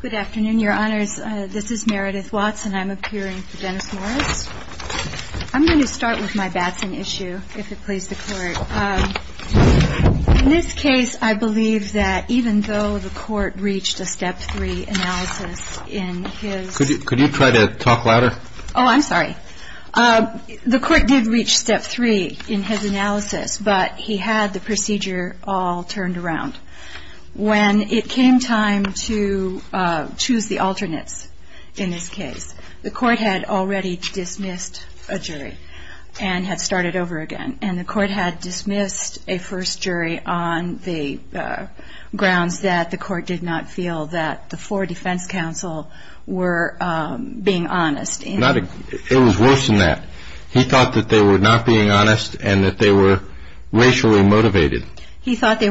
Good afternoon, Your Honors. This is Meredith Watson. I'm appearing for Dennis Morris. I'm going to start with my Batson issue, if it pleases the Court. In this case, I believe that even though the Court reached a Step 3 analysis in his Could you try to talk louder? Oh, I'm sorry. The Court did reach Step 3 in his analysis, but he had the procedure all turned around. When it came time to choose the alternates in this case, the Court had already dismissed a jury and had started over again. And the Court had dismissed a first jury on the grounds that the Court did not feel that the four defense counsel were being honest. It was worse than that. He thought that they were not being honest and that they were racially motivated. He thought that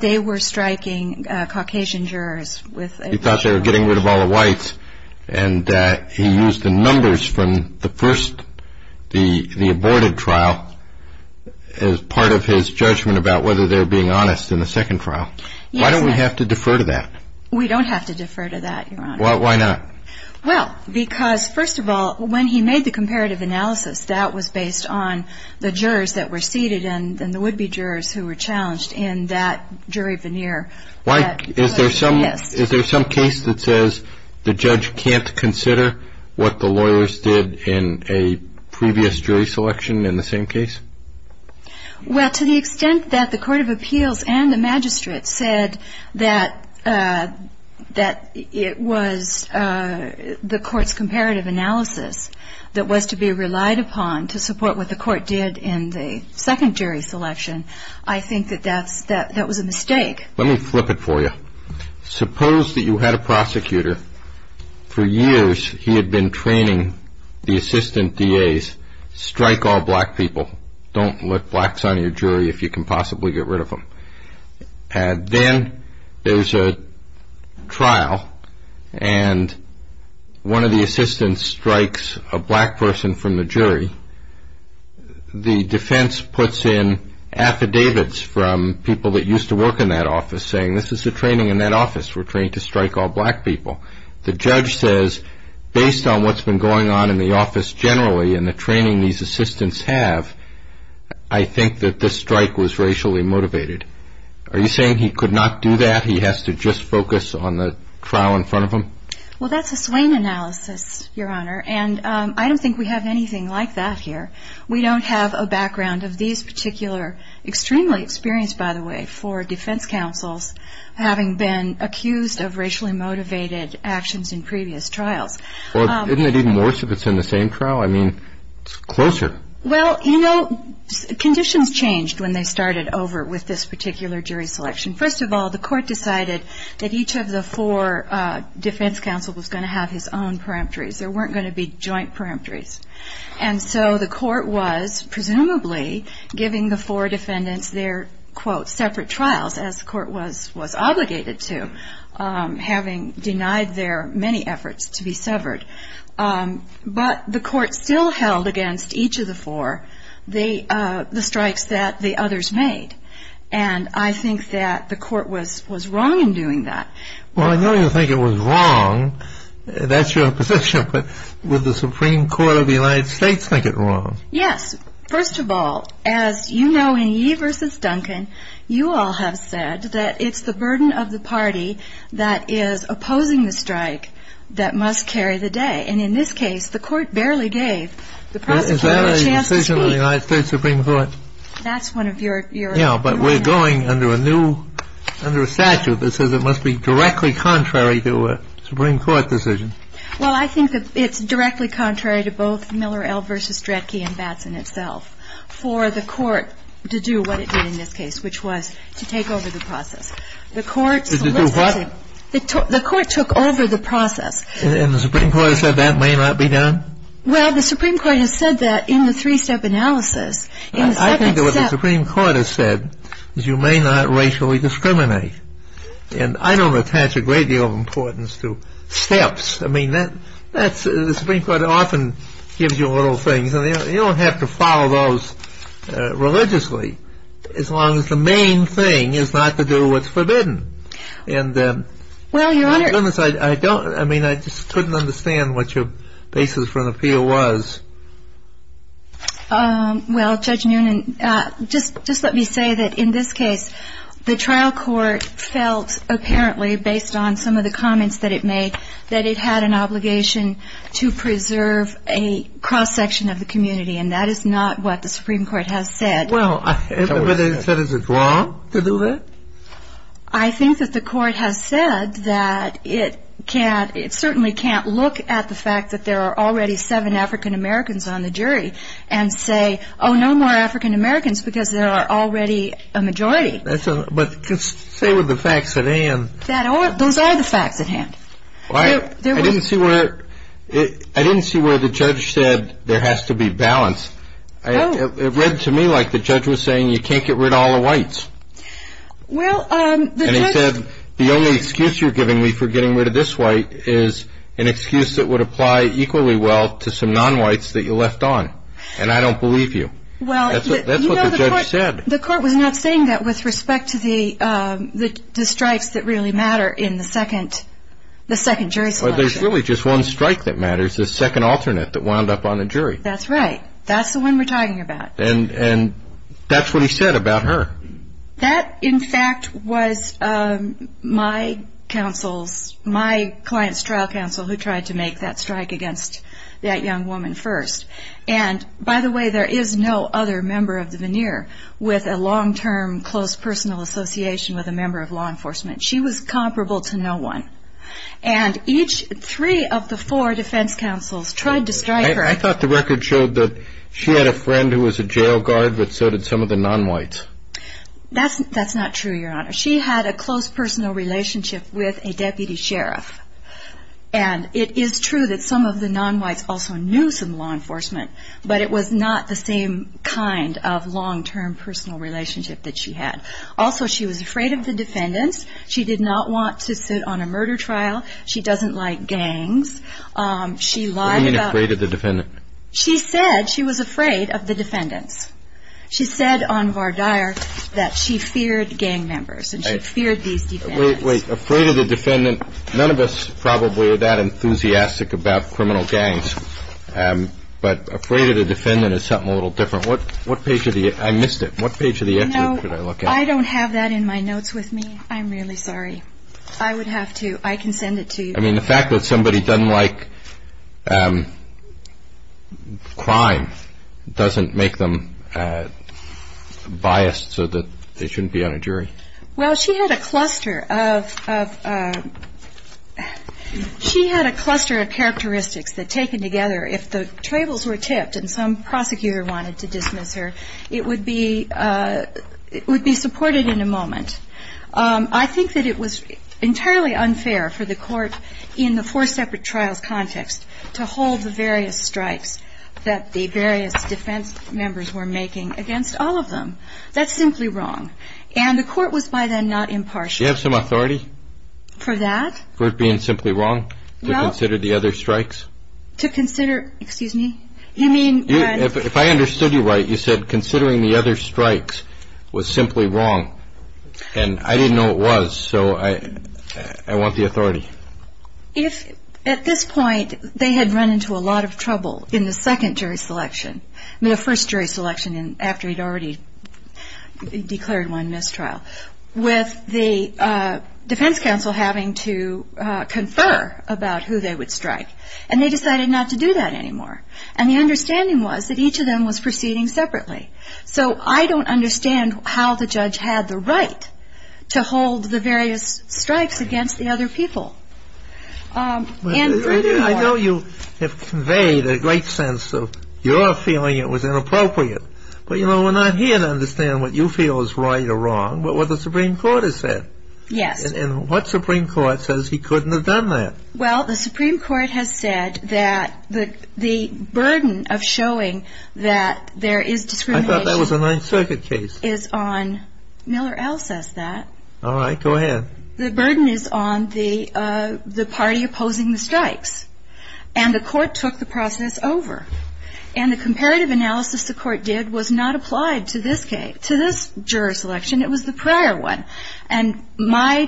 they were striking Caucasian jurors. He thought they were getting rid of all the whites. And he used the numbers from the first, the aborted trial, as part of his judgment about whether they were being honest in the second trial. Why don't we have to defer to that? We don't have to defer to that, Your Honor. Why not? Well, because, first of all, when he made the comparative analysis, that was based on the jurors that were seated and the would-be jurors who were challenged in that jury veneer. Is there some case that says the judge can't consider what the lawyers did in a previous jury selection in the same case? Well, to the extent that the Court of Appeals and the magistrate said that it was the Court's comparative analysis that was to be relied upon to support what the Court did in the second jury selection, I think that that was a mistake. Let me flip it for you. Suppose that you had a prosecutor. For years, he had been training the assistant DAs, strike all black people. Don't let blacks on your jury if you can possibly get rid of them. And then there's a trial, and one of the assistants strikes a black person from the jury. The defense puts in affidavits from people that used to work in that office saying this is the training in that office. We're trained to strike all black people. The judge says, based on what's been going on in the office generally and the training these assistants have, I think that this strike was racially motivated. Are you saying he could not do that? He has to just focus on the trial in front of him? Well, that's a swing analysis, Your Honor. And I don't think we have anything like that here. We don't have a background of these particular, extremely experienced, by the way, four defense counsels having been accused of racially motivated actions in previous trials. Well, isn't it even worse if it's in the same trial? I mean, it's closer. Well, you know, conditions changed when they started over with this particular jury selection. First of all, the Court decided that each of the four defense counsels was going to have his own peremptories. There weren't going to be joint peremptories. And so the Court was presumably giving the four defendants their, quote, separate trials, as the Court was obligated to, having denied their many efforts to be severed. But the Court still held against each of the four the strikes that the others made. And I think that the Court was wrong in doing that. Well, I know you think it was wrong. That's your position. But would the Supreme Court of the United States think it wrong? Yes. First of all, as you know, in Yee v. Duncan, you all have said that it's the burden of the party that is opposing the strike that must carry the day. And in this case, the Court barely gave the prosecutor a chance to speak. Is that a decision of the United States Supreme Court? That's one of your points. Well, I think that it's directly contrary to both Miller L. v. Stretke and Batson itself for the Court to do what it did in this case, which was to take over the process. The Court solicits it. To do what? The Court took over the process. And the Supreme Court has said that may not be done? Well, the Supreme Court has said that in the three-step analysis. In the second step. I can do what the Supreme Court has said. You may not racially discriminate. And I don't attach a great deal of importance to steps. I mean, that's the Supreme Court often gives you little things. And you don't have to follow those religiously as long as the main thing is not to do what's forbidden. Well, Your Honor. I mean, I just couldn't understand what your basis for an appeal was. Well, Judge Noonan, just let me say that in this case, the trial court felt apparently based on some of the comments that it made that it had an obligation to preserve a cross-section of the community. And that is not what the Supreme Court has said. Well, but is it wrong to do that? I think that the Court has said that it certainly can't look at the fact that there are already seven African-Americans on the jury and say, oh, no more African-Americans because there are already a majority. But say with the facts at hand. Those are the facts at hand. I didn't see where the judge said there has to be balance. It read to me like the judge was saying you can't get rid of all the whites. And he said the only excuse you're giving me for getting rid of this white is an excuse that would apply equally well to some non-whites that you left on. And I don't believe you. That's what the judge said. Well, you know, the Court was not saying that with respect to the strikes that really matter in the second jury selection. Well, there's really just one strike that matters, the second alternate that wound up on the jury. That's right. That's the one we're talking about. And that's what he said about her. That, in fact, was my counsel's, my client's trial counsel who tried to make that strike against that young woman first. And, by the way, there is no other member of the veneer with a long-term close personal association with a member of law enforcement. She was comparable to no one. And each three of the four defense counsels tried to strike her. I thought the record showed that she had a friend who was a jail guard, but so did some of the non-whites. That's not true, Your Honor. She had a close personal relationship with a deputy sheriff. And it is true that some of the non-whites also knew some law enforcement, but it was not the same kind of long-term personal relationship that she had. Also, she was afraid of the defendants. She did not want to sit on a murder trial. She doesn't like gangs. She lied about that. What do you mean afraid of the defendants? She said she was afraid of the defendants. She said on Vardyar that she feared gang members and she feared these defendants. Wait, wait. Afraid of the defendant. None of us probably are that enthusiastic about criminal gangs, but afraid of the defendant is something a little different. What page of the – I missed it. What page of the excerpt did I look at? No, I don't have that in my notes with me. I'm really sorry. I would have to – I can send it to you. I mean, the fact that somebody doesn't like crime doesn't make them biased so that they shouldn't be on a jury. Well, she had a cluster of – she had a cluster of characteristics that, taken together, if the tables were tipped and some prosecutor wanted to dismiss her, it would be supported in a moment. I think that it was entirely unfair for the court in the four separate trials context to hold the various strikes that the various defense members were making against all of them. That's simply wrong. And the court was by then not impartial. Do you have some authority? For that? For it being simply wrong to consider the other strikes? To consider – excuse me? You mean when – If I understood you right, you said considering the other strikes was simply wrong. And I didn't know it was, so I want the authority. If – at this point, they had run into a lot of trouble in the second jury selection – I mean, the first jury selection after he'd already declared one mistrial with the defense counsel having to confer about who they would strike. And they decided not to do that anymore. And the understanding was that each of them was proceeding separately. So I don't understand how the judge had the right to hold the various strikes against the other people. And furthermore – I know you have conveyed a great sense of your feeling it was inappropriate. But, you know, we're not here to understand what you feel is right or wrong, but what the Supreme Court has said. Yes. And what Supreme Court says he couldn't have done that? Well, the Supreme Court has said that the burden of showing that there is discrimination – I thought that was a Ninth Circuit case. – is on – Miller L. says that. All right. Go ahead. The burden is on the party opposing the strikes. And the court took the process over. And the comparative analysis the court did was not applied to this case – to this jury selection. It was the prior one. And my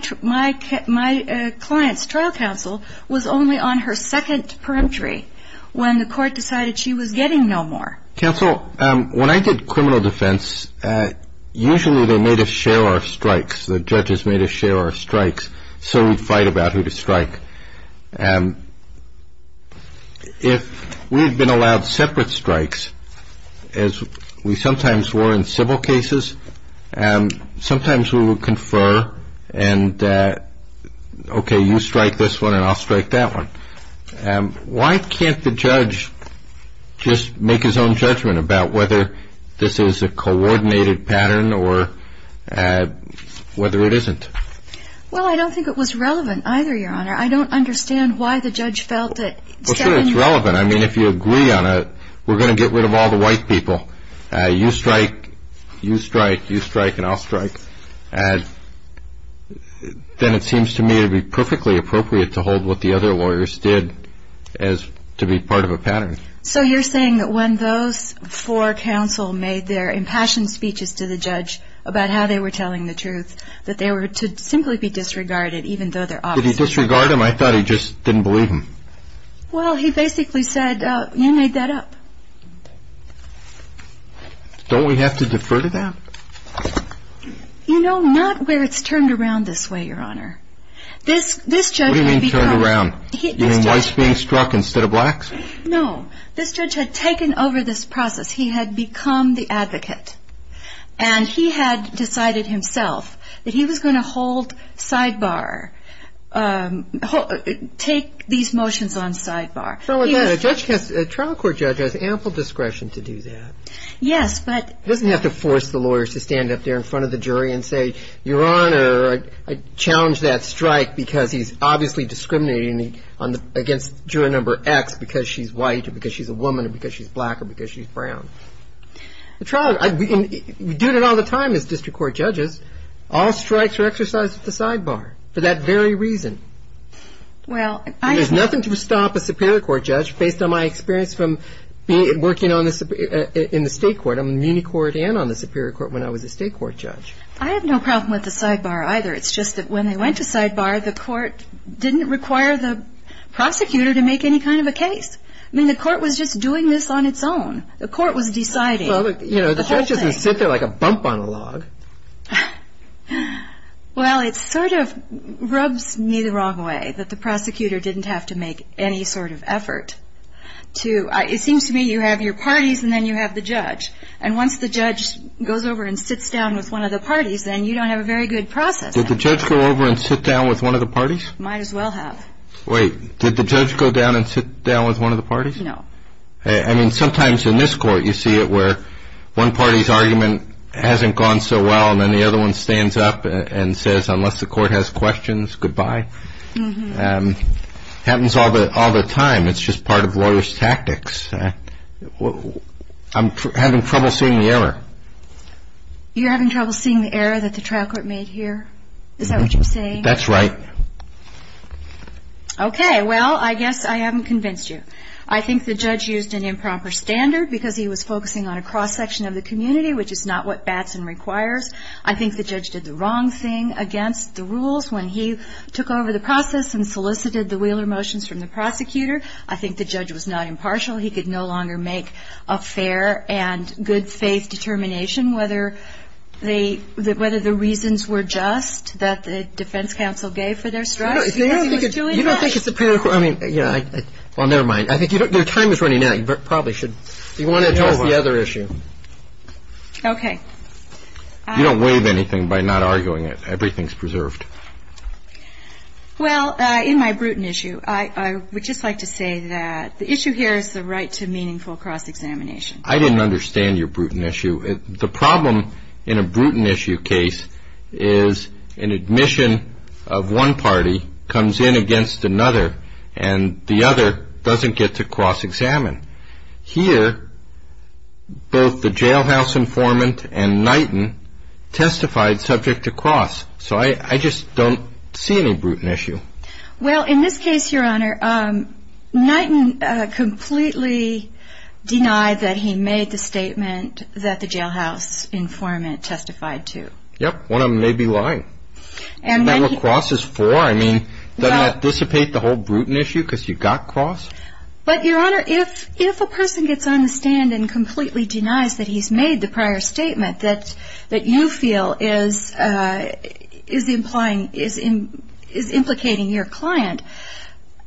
client's trial counsel was only on her second peremptory when the court decided she was getting no more. Counsel, when I did criminal defense, usually they made us share our strikes. The judges made us share our strikes so we'd fight about who to strike. If we had been allowed separate strikes, as we sometimes were in civil cases, sometimes we would confer and, okay, you strike this one and I'll strike that one. Why can't the judge just make his own judgment about whether this is a coordinated pattern or whether it isn't? Well, I don't think it was relevant either, Your Honor. I don't understand why the judge felt that – Well, sure, it's relevant. I mean, if you agree on it, we're going to get rid of all the white people. You strike, you strike, you strike, and I'll strike, then it seems to me it would be perfectly appropriate to hold what the other lawyers did as to be part of a pattern. So you're saying that when those four counsel made their impassioned speeches to the judge about how they were telling the truth, that they were to simply be disregarded even though they're officers? Did he disregard them? I thought he just didn't believe them. Well, he basically said, you made that up. Don't we have to defer to that? You know, not where it's turned around this way, Your Honor. This judge had become – What do you mean turned around? You mean whites being struck instead of blacks? No. This judge had taken over this process. He had become the advocate. And he had decided himself that he was going to hold sidebar, take these motions on sidebar. A trial court judge has ample discretion to do that. Yes, but – He doesn't have to force the lawyers to stand up there in front of the jury and say, Your Honor, I challenge that strike because he's obviously discriminating against juror number X because she's white or because she's a woman or because she's black or because she's brown. We do that all the time as district court judges. All strikes are exercised at the sidebar for that very reason. Well, I – There's nothing to stop a superior court judge, based on my experience from working in the state court. I'm in the muni court and on the superior court when I was a state court judge. I have no problem with the sidebar either. It's just that when they went to sidebar, the court didn't require the prosecutor to make any kind of a case. I mean, the court was just doing this on its own. The court was deciding the whole thing. Well, you know, the judge doesn't sit there like a bump on a log. Well, it sort of rubs me the wrong way that the prosecutor didn't have to make any sort of effort to – it seems to me you have your parties and then you have the judge. And once the judge goes over and sits down with one of the parties, then you don't have a very good process. Did the judge go over and sit down with one of the parties? Might as well have. Wait. Did the judge go down and sit down with one of the parties? No. I mean, sometimes in this court you see it where one party's argument hasn't gone so well and then the other one stands up and says, unless the court has questions, goodbye. Happens all the time. It's just part of lawyers' tactics. I'm having trouble seeing the error. You're having trouble seeing the error that the trial court made here? Is that what you're saying? That's right. Okay. Well, I guess I haven't convinced you. I think the judge used an improper standard because he was focusing on a cross-section of the community, which is not what Batson requires. I think the judge did the wrong thing against the rules when he took over the process and solicited the Wheeler motions from the prosecutor. I think the judge was not impartial. He could no longer make a fair and good-faith determination whether the reasons were just that the defense counsel gave for their strike. No, no. You don't think it's a prerogative? Well, never mind. Your time is running out. You probably should ask the other issue. Okay. You don't waive anything by not arguing it. Everything is preserved. Well, in my brutal issue, I would just like to say that the issue here is the right to meaningful cross-examination. I didn't understand your brutal issue. The problem in a brutal issue case is an admission of one party comes in against another, and the other doesn't get to cross-examine. Here, both the jailhouse informant and Knighton testified subject to cross, so I just don't see any brutal issue. Well, in this case, Your Honor, Knighton completely denied that he made the statement that the jailhouse informant testified to. Yep. One of them may be lying. Now, a cross is four. I mean, doesn't that dissipate the whole brutal issue because you got cross? But, Your Honor, if a person gets on the stand and completely denies that he's made the prior statement that you feel is implicating your client,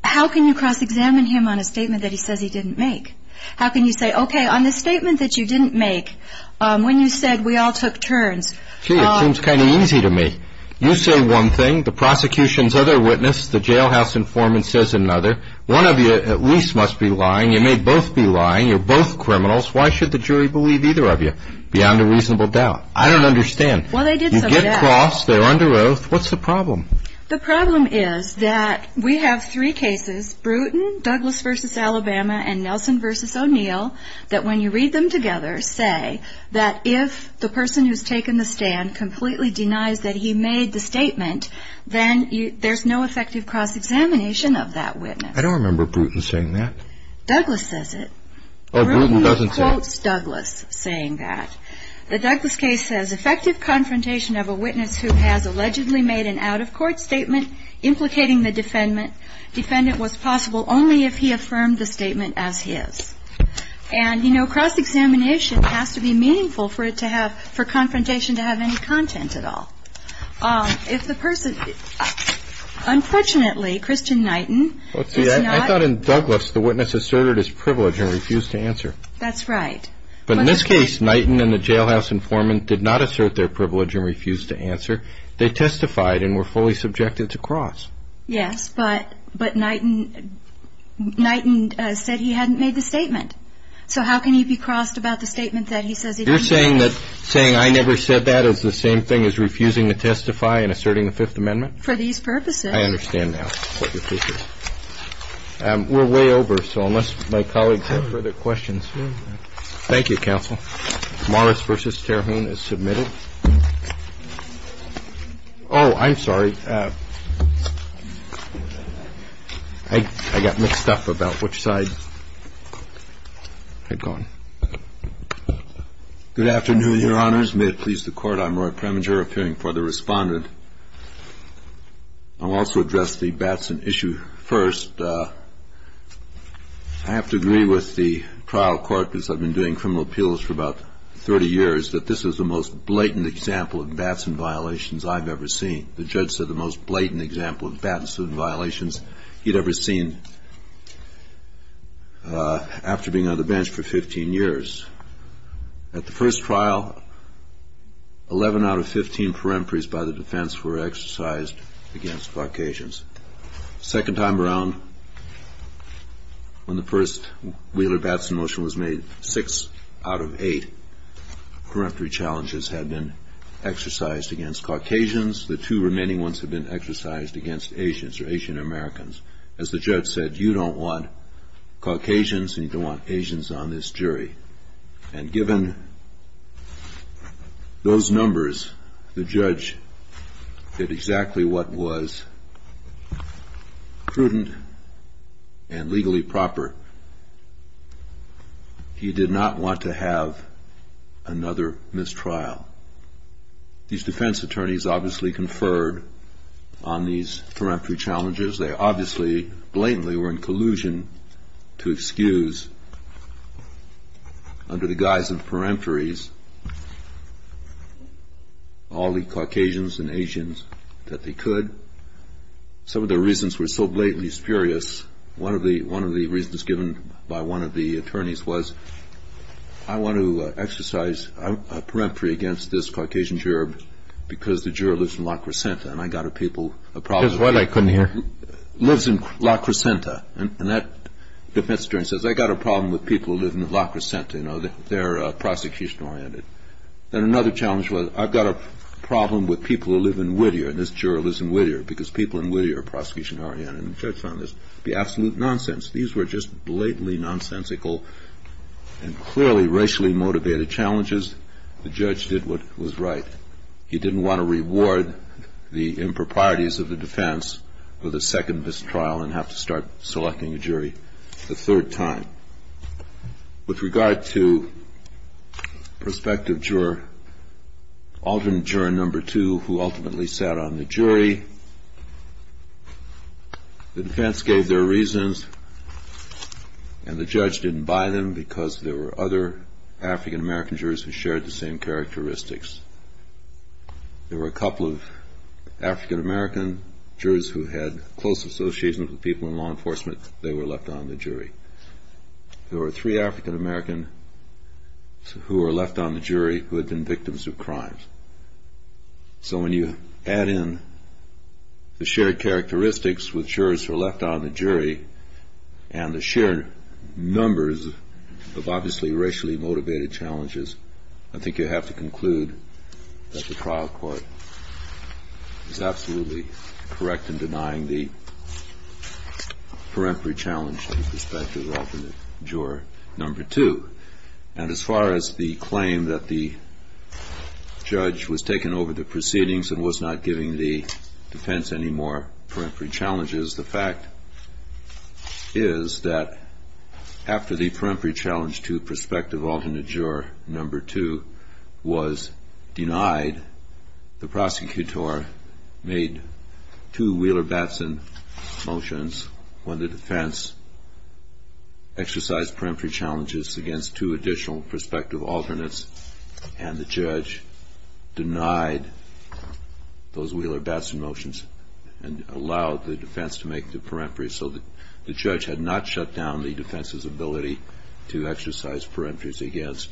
how can you cross-examine him on a statement that he says he didn't make? How can you say, okay, on this statement that you didn't make, when you said we all took turns. Gee, it seems kind of easy to me. You say one thing, the prosecution's other witness, the jailhouse informant, says another. One of you at least must be lying. You may both be lying. You're both criminals. Why should the jury believe either of you beyond a reasonable doubt? I don't understand. Well, they did some of that. You get cross. They're under oath. What's the problem? The problem is that we have three cases, Bruton, Douglas v. Alabama, and Nelson v. O'Neill, that when you read them together say that if the person who's taken the stand completely denies that he made the statement, then there's no effective cross-examination of that witness. I don't remember Bruton saying that. Douglas says it. Oh, Bruton doesn't say it. Bruton quotes Douglas saying that. The Douglas case says, effective confrontation of a witness who has allegedly made an out-of-court statement implicating the defendant was possible only if he affirmed the statement as his. And, you know, cross-examination has to be meaningful for it to have, for confrontation to have any content at all. If the person, unfortunately, Christian Knighton is not. I thought in Douglas the witness asserted his privilege and refused to answer. That's right. But in this case, Knighton and the jailhouse informant did not assert their privilege and refused to answer. They testified and were fully subjected to cross. Yes, but Knighton said he hadn't made the statement. So how can he be crossed about the statement that he says he didn't make? You're saying I never said that is the same thing as refusing to testify and asserting the Fifth Amendment? For these purposes. I understand now what your case is. We're way over, so unless my colleagues have further questions. Thank you, counsel. Morris v. Terhune is submitted. Oh, I'm sorry. I got mixed up about which side had gone. Good afternoon, Your Honors. May it please the Court. I'm Roy Preminger, appearing for the Respondent. I'll also address the Batson issue first. I have to agree with the trial court, because I've been doing criminal appeals for about 30 years, that this is the most blatant example of Batson violations I've ever seen. The judge said the most blatant example of Batson violations he'd ever seen after being on the bench for 15 years. At the first trial, 11 out of 15 peremptories by the defense were exercised against Caucasians. The second time around, when the first Wheeler-Batson motion was made, six out of eight peremptory challenges had been exercised against Caucasians. The two remaining ones had been exercised against Asians or Asian Americans. As the judge said, you don't want Caucasians and you don't want Asians on this jury. And given those numbers, the judge did exactly what was prudent and legally proper. He did not want to have another mistrial. These defense attorneys obviously conferred on these peremptory challenges. They obviously blatantly were in collusion to excuse, under the guise of peremptories, all the Caucasians and Asians that they could. Some of the reasons were so blatantly spurious. One of the reasons given by one of the attorneys was, I want to exercise a peremptory against this Caucasian juror because the juror lives in La Crescenta, and I've got a problem with people who live in La Crescenta. They're prosecution-oriented. Then another challenge was, I've got a problem with people who live in Whittier, and this juror lives in Whittier because people in Whittier are prosecution-oriented. And the judge found this to be absolute nonsense. These were just blatantly nonsensical and clearly racially-motivated challenges. The judge did what was right. He didn't want to reward the judge. of the defense with a second mistrial and have to start selecting a jury a third time. With regard to prospective juror, alternate juror number two, who ultimately sat on the jury, the defense gave their reasons, and the judge didn't buy them because there were other African-American jurors who shared the same characteristics. There were a couple of African-American jurors who had close association with people in law enforcement. They were left on the jury. There were three African-American who were left on the jury who had been victims of crimes. So when you add in the shared characteristics with jurors who are left on the jury and the shared numbers of obviously racially-motivated challenges, I think you have to conclude that the trial court is absolutely correct in denying the peremptory challenge to prospective alternate juror number two. And as far as the claim that the judge was taking over the proceedings and was not giving the defense any more peremptory challenges, the fact is that after the peremptory challenge to prospective alternate juror number two was denied, the prosecutor made two Wheeler-Batson motions when the defense exercised peremptory challenges against two additional prospective alternates, and the judge denied those Wheeler-Batson motions and allowed the defense to make the peremptory so that the judge had not shut down the defense's ability to exercise peremptories against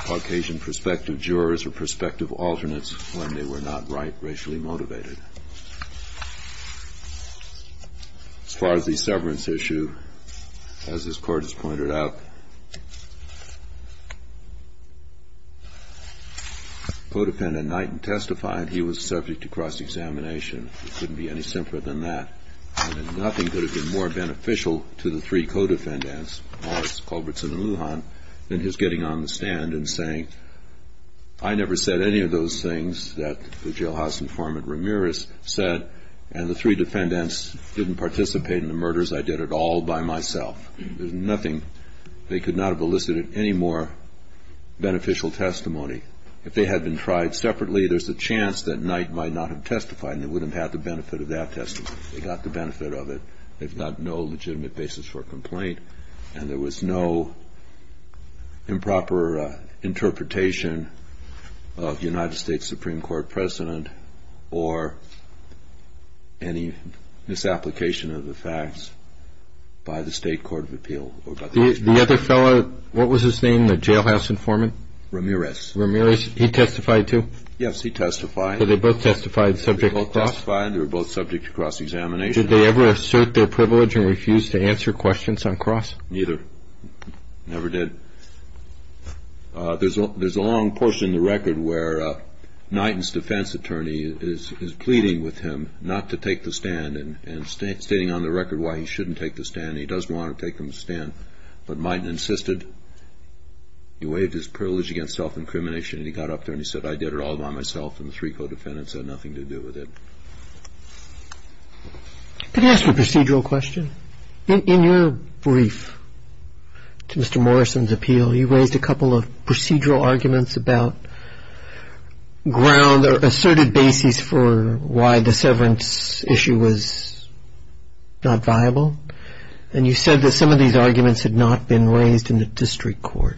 Caucasian prospective jurors or prospective alternates when they were not racially motivated. As far as the severance issue, as this Court has pointed out, co-defendant Knighton testified he was subject to cross-examination. It couldn't be any simpler than that. Nothing could have been more beneficial to the three co-defendants, Morris, Culbertson, and Lujan, than his getting on the stand and saying, I never said any of those things that the jailhouse informant Ramirez said, and the three defendants didn't participate in the murders. I did it all by myself. There's nothing. They could not have elicited any more beneficial testimony. If they had been tried separately, there's a chance that Knight might not have testified and they wouldn't have had the benefit of that testimony. They got the benefit of it. They've got no legitimate basis for complaint, and there was no improper interpretation of United States Supreme Court precedent or any misapplication of the facts by the State Court of Appeal. The other fellow, what was his name, the jailhouse informant? Ramirez. Ramirez, he testified too? Yes, he testified. So they both testified subject to cross? They both testified. They were both subject to cross-examination. Did they ever assert their privilege and refuse to answer questions on cross? Neither. Never did. There's a long portion in the record where Knighton's defense attorney is pleading with him not to take the stand and stating on the record why he shouldn't take the stand and he doesn't want to take the stand. But Knighton insisted. He waived his privilege against self-incrimination, and he got up there and he said, I did it all by myself, and the three co-defendants had nothing to do with it. Could I ask a procedural question? In your brief to Mr. Morrison's appeal, you raised a couple of procedural arguments about ground or asserted basis for why the severance issue was not viable, and you said that some of these arguments had not been raised in the district court.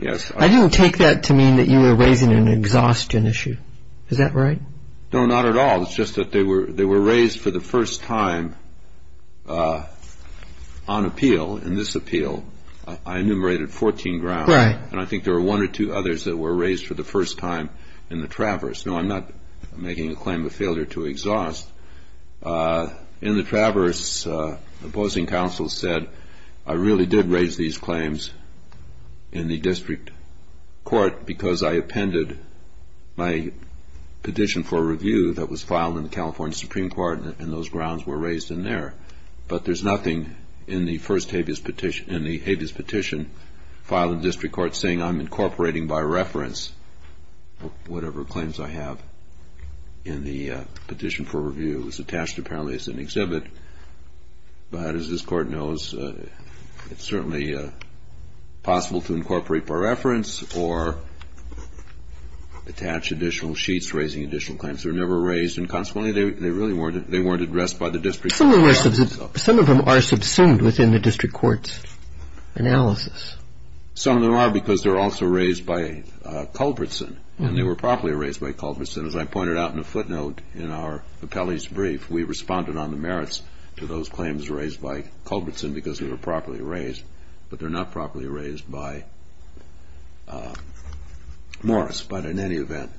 Yes. I didn't take that to mean that you were raising an exhaustion issue. Is that right? No, not at all. It's just that they were raised for the first time on appeal. In this appeal, I enumerated 14 grounds, and I think there were one or two others that were raised for the first time in the traverse. No, I'm not making a claim of failure to exhaust. In the traverse, opposing counsel said, I really did raise these claims in the district court because I appended my petition for review that was filed in the California Supreme Court, and those grounds were raised in there. But there's nothing in the habeas petition filed in the district court saying I'm incorporating by reference whatever claims I have in the petition for review. It was attached apparently as an exhibit. But as this court knows, it's certainly possible to incorporate by reference or attach additional sheets raising additional claims that were never raised, and consequently they really weren't addressed by the district court. Some of them are subsumed within the district court's analysis. Some of them are because they're also raised by Culbertson, and they were properly raised by Culbertson. As I pointed out in a footnote in our appellee's brief, we responded on the merits to those claims raised by Culbertson because they were properly raised, but they're not properly raised by Morris. But in any event,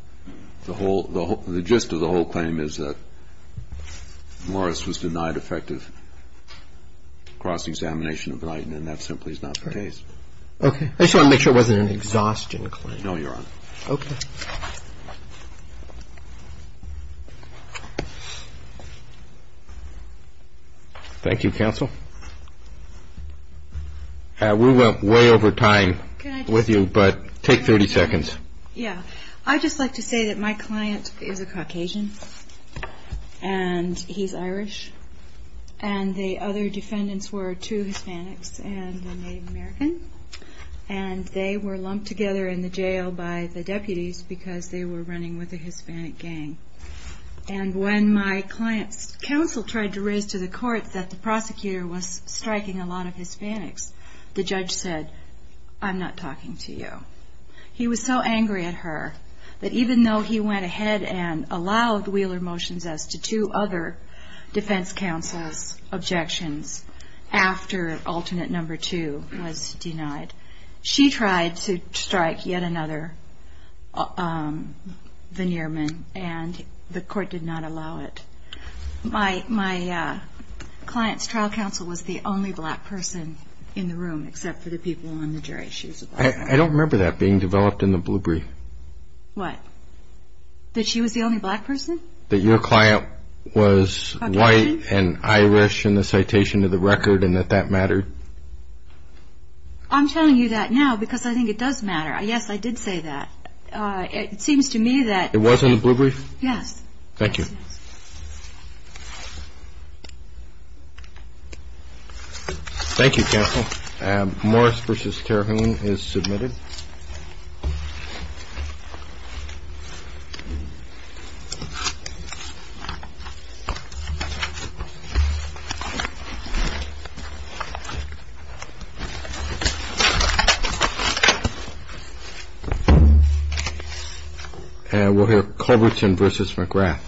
the whole – the gist of the whole claim is that Morris was denied effective cross-examination of Blighton, and that simply is not the case. Okay. I just wanted to make sure it wasn't an exhaustion claim. No, Your Honor. Okay. Thank you. Thank you, counsel. We went way over time with you, but take 30 seconds. Yeah. I'd just like to say that my client is a Caucasian, and he's Irish, and the other defendants were two Hispanics and a Native American, and they were lumped together in the jail by the deputies because they were running with a Hispanic gang. And when my client's counsel tried to raise to the court that the prosecutor was striking a lot of Hispanics, the judge said, I'm not talking to you. He was so angry at her that even though he went ahead and allowed Wheeler motions as to two other defense counsel's objections after alternate number two was denied, she tried to strike yet another veneer man, and the court did not allow it. My client's trial counsel was the only black person in the room except for the people on the jury. I don't remember that being developed in the blue brief. What? That she was the only black person? That your client was white and Irish in the citation of the record, and that that mattered. I'm telling you that now because I think it does matter. Yes, I did say that. It seems to me that. It was in the blue brief? Yes. Thank you. Thank you, counsel. Morris v. Carhoon is submitted. And we'll hear Culbertson v. McGrath.